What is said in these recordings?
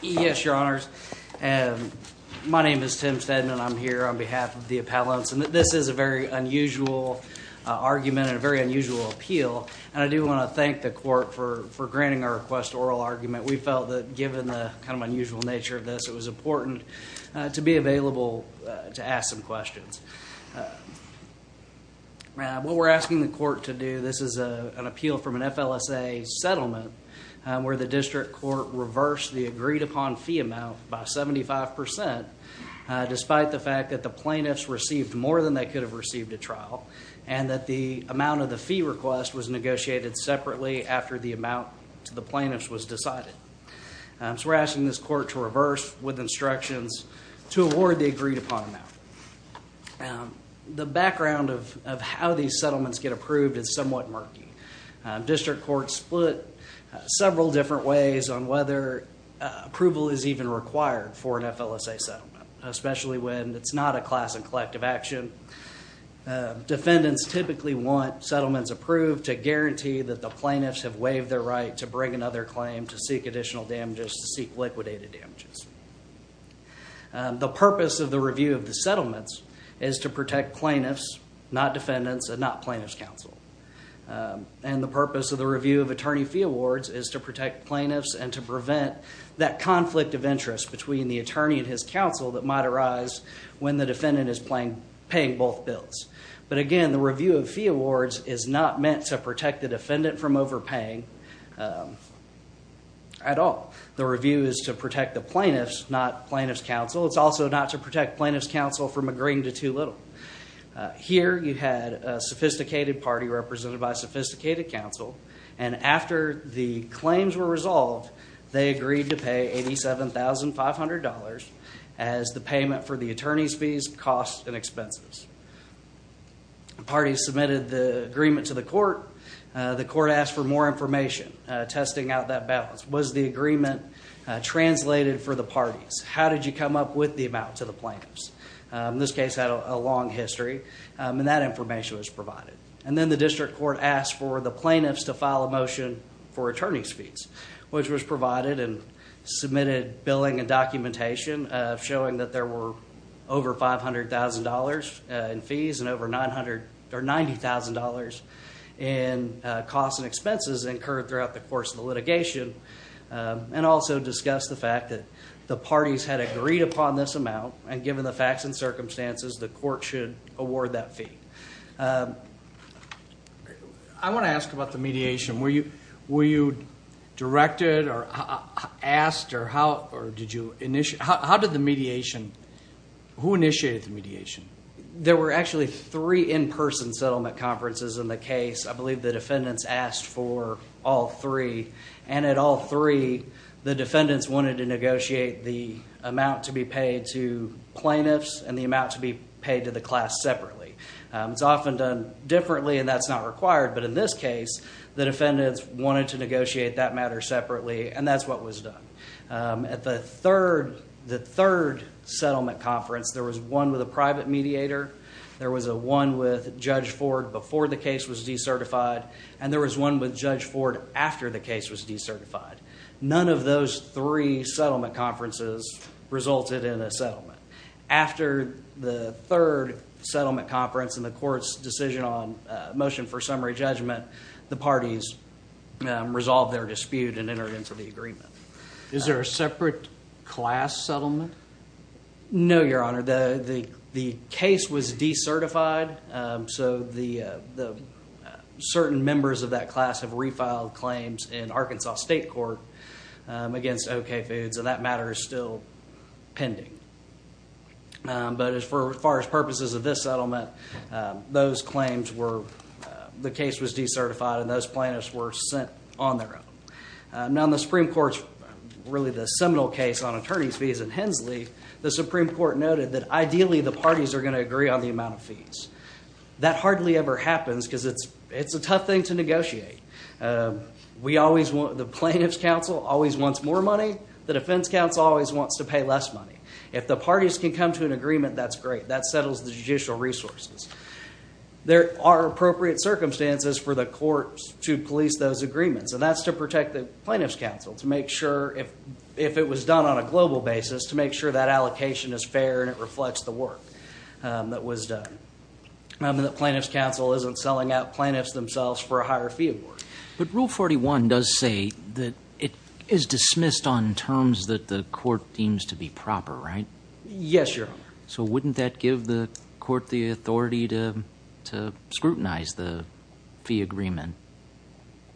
Yes, Your Honors. My name is Tim Stedman. I'm here on behalf of the appellants, and this is a very unusual argument and a very unusual appeal. And I do want to thank the court for granting our request to oral argument. We felt that given the kind of unusual nature of this, it was important to be available to ask some questions. What we're asking the court to do, this is an appeal from an FLSA settlement where the district court reversed the agreed upon fee amount by 75% despite the fact that the plaintiffs received more than they could have received at trial. And that the amount of the fee request was negotiated separately after the amount to the plaintiffs was decided. So we're asking this court to reverse with instructions to award the agreed upon amount. The background of how these settlements get approved is somewhat murky. District courts split several different ways on whether approval is even required for an FLSA settlement, especially when it's not a class and collective action. Defendants typically want settlements approved to guarantee that the plaintiffs have waived their right to bring another claim, to seek additional damages, to seek liquidated damages. The purpose of the review of the settlements is to protect plaintiffs, not defendants, and not plaintiffs counsel. And the purpose of the review of attorney fee awards is to protect plaintiffs and to prevent that conflict of interest between the attorney and his counsel that might arise when the defendant is paying both bills. But again, the review of fee awards is not meant to protect the defendant from overpaying at all. The review is to protect the plaintiffs, not plaintiffs counsel. It's also not to protect plaintiffs counsel from agreeing to too little. Here you had a sophisticated party represented by a sophisticated counsel. And after the claims were resolved, they agreed to pay $87,500 as the payment for the attorney's fees, costs, and expenses. The party submitted the agreement to the court. The court asked for more information, testing out that balance. Was the agreement translated for the parties? How did you come up with the amount to the plaintiffs? This case had a long history, and that information was provided. And then the district court asked for the plaintiffs to file a motion for attorney's fees, which was provided and submitted billing and documentation showing that there were over $500,000 in fees and over $90,000 in costs and expenses incurred throughout the course of the litigation. And also discussed the fact that the parties had agreed upon this amount. And given the facts and circumstances, the court should award that fee. I want to ask about the mediation. Were you directed or asked or how did you initiate? How did the mediation, who initiated the mediation? There were actually three in-person settlement conferences in the case. I believe the defendants asked for all three. And at all three, the defendants wanted to negotiate the amount to be paid to plaintiffs and the amount to be paid to the class separately. It's often done differently, and that's not required. But in this case, the defendants wanted to negotiate that matter separately, and that's what was done. At the third settlement conference, there was one with a private mediator. There was one with Judge Ford before the case was decertified, and there was one with Judge Ford after the case was decertified. None of those three settlement conferences resulted in a settlement. After the third settlement conference and the court's decision on motion for summary judgment, the parties resolved their dispute and entered into the agreement. Is there a separate class settlement? No, Your Honor. The case was decertified, so certain members of that class have refiled claims in Arkansas State Court against OK Foods, and that matter is still pending. But as far as purposes of this settlement, the case was decertified, and those plaintiffs were sent on their own. Now in the Supreme Court's, really the seminal case on attorney's fees in Hensley, the Supreme Court noted that ideally the parties are going to agree on the amount of fees. That hardly ever happens because it's a tough thing to negotiate. The plaintiff's counsel always wants more money. The defense counsel always wants to pay less money. If the parties can come to an agreement, that's great. That settles the judicial resources. There are appropriate circumstances for the court to police those agreements, and that's to protect the plaintiff's counsel, to make sure if it was done on a global basis, to make sure that allocation is fair and it reflects the work that was done. The plaintiff's counsel isn't selling out plaintiffs themselves for a higher fee award. But Rule 41 does say that it is dismissed on terms that the court deems to be proper, right? Yes, Your Honor. So wouldn't that give the court the authority to scrutinize the fee agreement?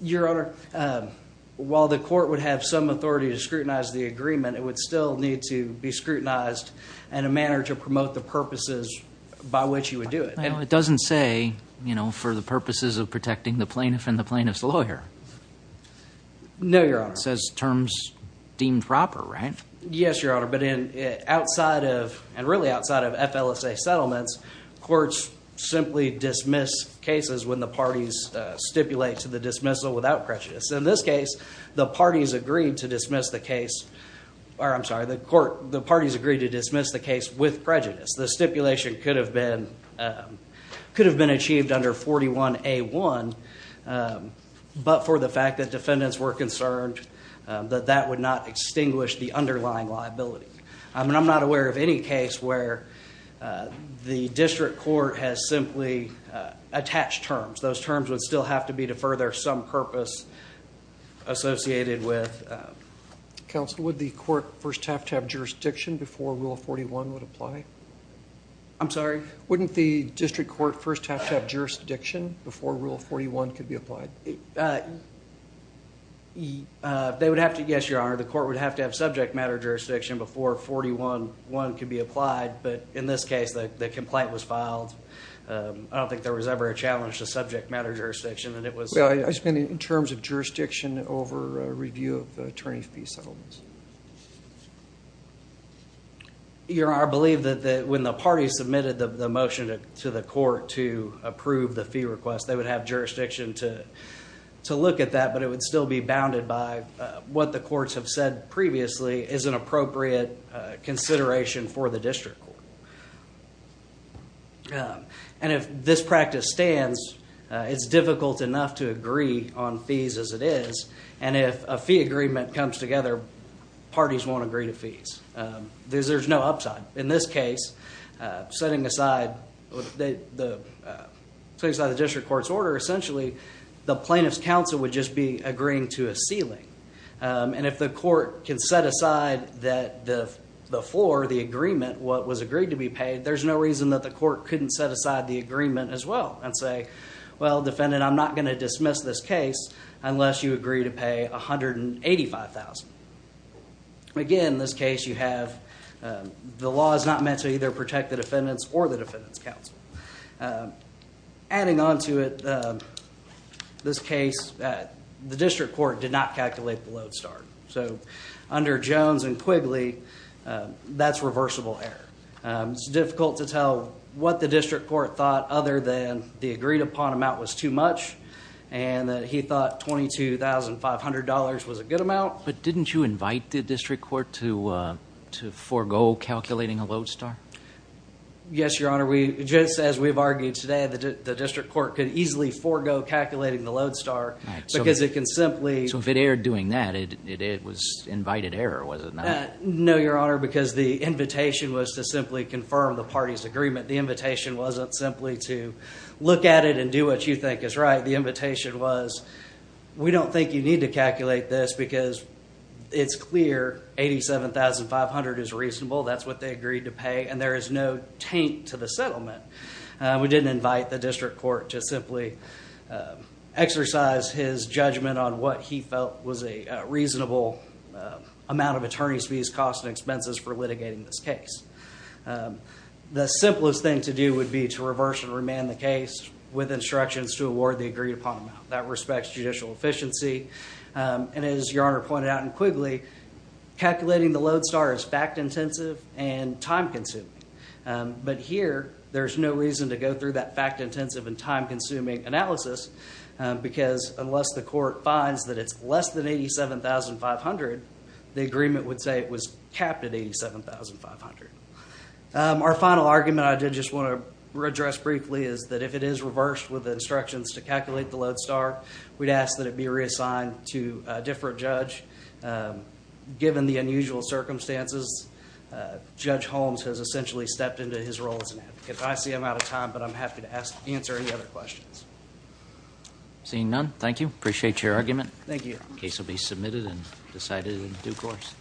Your Honor, while the court would have some authority to scrutinize the agreement, it would still need to be scrutinized in a manner to promote the purposes by which you would do it. It doesn't say for the purposes of protecting the plaintiff and the plaintiff's lawyer. No, Your Honor. It says terms deemed proper, right? Yes, Your Honor. But outside of, and really outside of FLSA settlements, courts simply dismiss cases when the parties stipulate to the dismissal without prejudice. In this case, the parties agreed to dismiss the case, or I'm sorry, the parties agreed to dismiss the case with prejudice. The stipulation could have been achieved under 41A1, but for the fact that defendants were concerned that that would not extinguish the underlying liability. I mean, I'm not aware of any case where the district court has simply attached terms. Those terms would still have to be to further some purpose associated with... Wouldn't the court first have to have jurisdiction before Rule 41 would apply? I'm sorry? Wouldn't the district court first have to have jurisdiction before Rule 41 could be applied? They would have to, yes, Your Honor. The court would have to have subject matter jurisdiction before 41A1 could be applied, but in this case, the complaint was filed. I don't think there was ever a challenge to subject matter jurisdiction, and it was... Your Honor, I believe that when the parties submitted the motion to the court to approve the fee request, they would have jurisdiction to look at that, but it would still be bounded by what the courts have said previously is an appropriate consideration for the district court. And if this practice stands, it's difficult enough to agree on fees as it is, and if a fee agreement comes together, parties won't agree to fees. There's no upside. In this case, setting aside the district court's order, essentially the plaintiff's counsel would just be agreeing to a ceiling, and if the court can set aside the floor, the agreement, what was agreed to be paid, there's no reason that the court couldn't set aside the agreement as well and say, well, defendant, I'm not going to dismiss this case unless you agree to pay $185,000. Again, in this case, the law is not meant to either protect the defendants or the defendant's counsel. Adding on to it, this case, the district court did not calculate the lodestar. So under Jones and Quigley, that's reversible error. It's difficult to tell what the district court thought other than the agreed upon amount was too much and that he thought $22,500 was a good amount. But didn't you invite the district court to forego calculating a lodestar? Yes, Your Honor. Just as we've argued today, the district court could easily forego calculating the lodestar because it can simply— So if it erred doing that, it was invited error, was it not? No, Your Honor, because the invitation was to simply confirm the party's agreement. The invitation wasn't simply to look at it and do what you think is right. The invitation was, we don't think you need to calculate this because it's clear $87,500 is reasonable. That's what they agreed to pay, and there is no taint to the settlement. We didn't invite the district court to simply exercise his judgment on what he felt was a reasonable amount of attorney's fees, costs, and expenses for litigating this case. The simplest thing to do would be to reverse and remand the case with instructions to award the agreed upon amount. That respects judicial efficiency. And as Your Honor pointed out in Quigley, calculating the lodestar is fact-intensive and time-consuming. But here, there's no reason to go through that fact-intensive and time-consuming analysis because unless the court finds that it's less than $87,500, the agreement would say it was capped at $87,500. Our final argument I did just want to address briefly is that if it is reversed with instructions to calculate the lodestar, we'd ask that it be reassigned to a different judge. Given the unusual circumstances, Judge Holmes has essentially stepped into his role as an advocate. I see I'm out of time, but I'm happy to answer any other questions. Seeing none, thank you. Appreciate your argument. Thank you. The case will be submitted and decided in due course.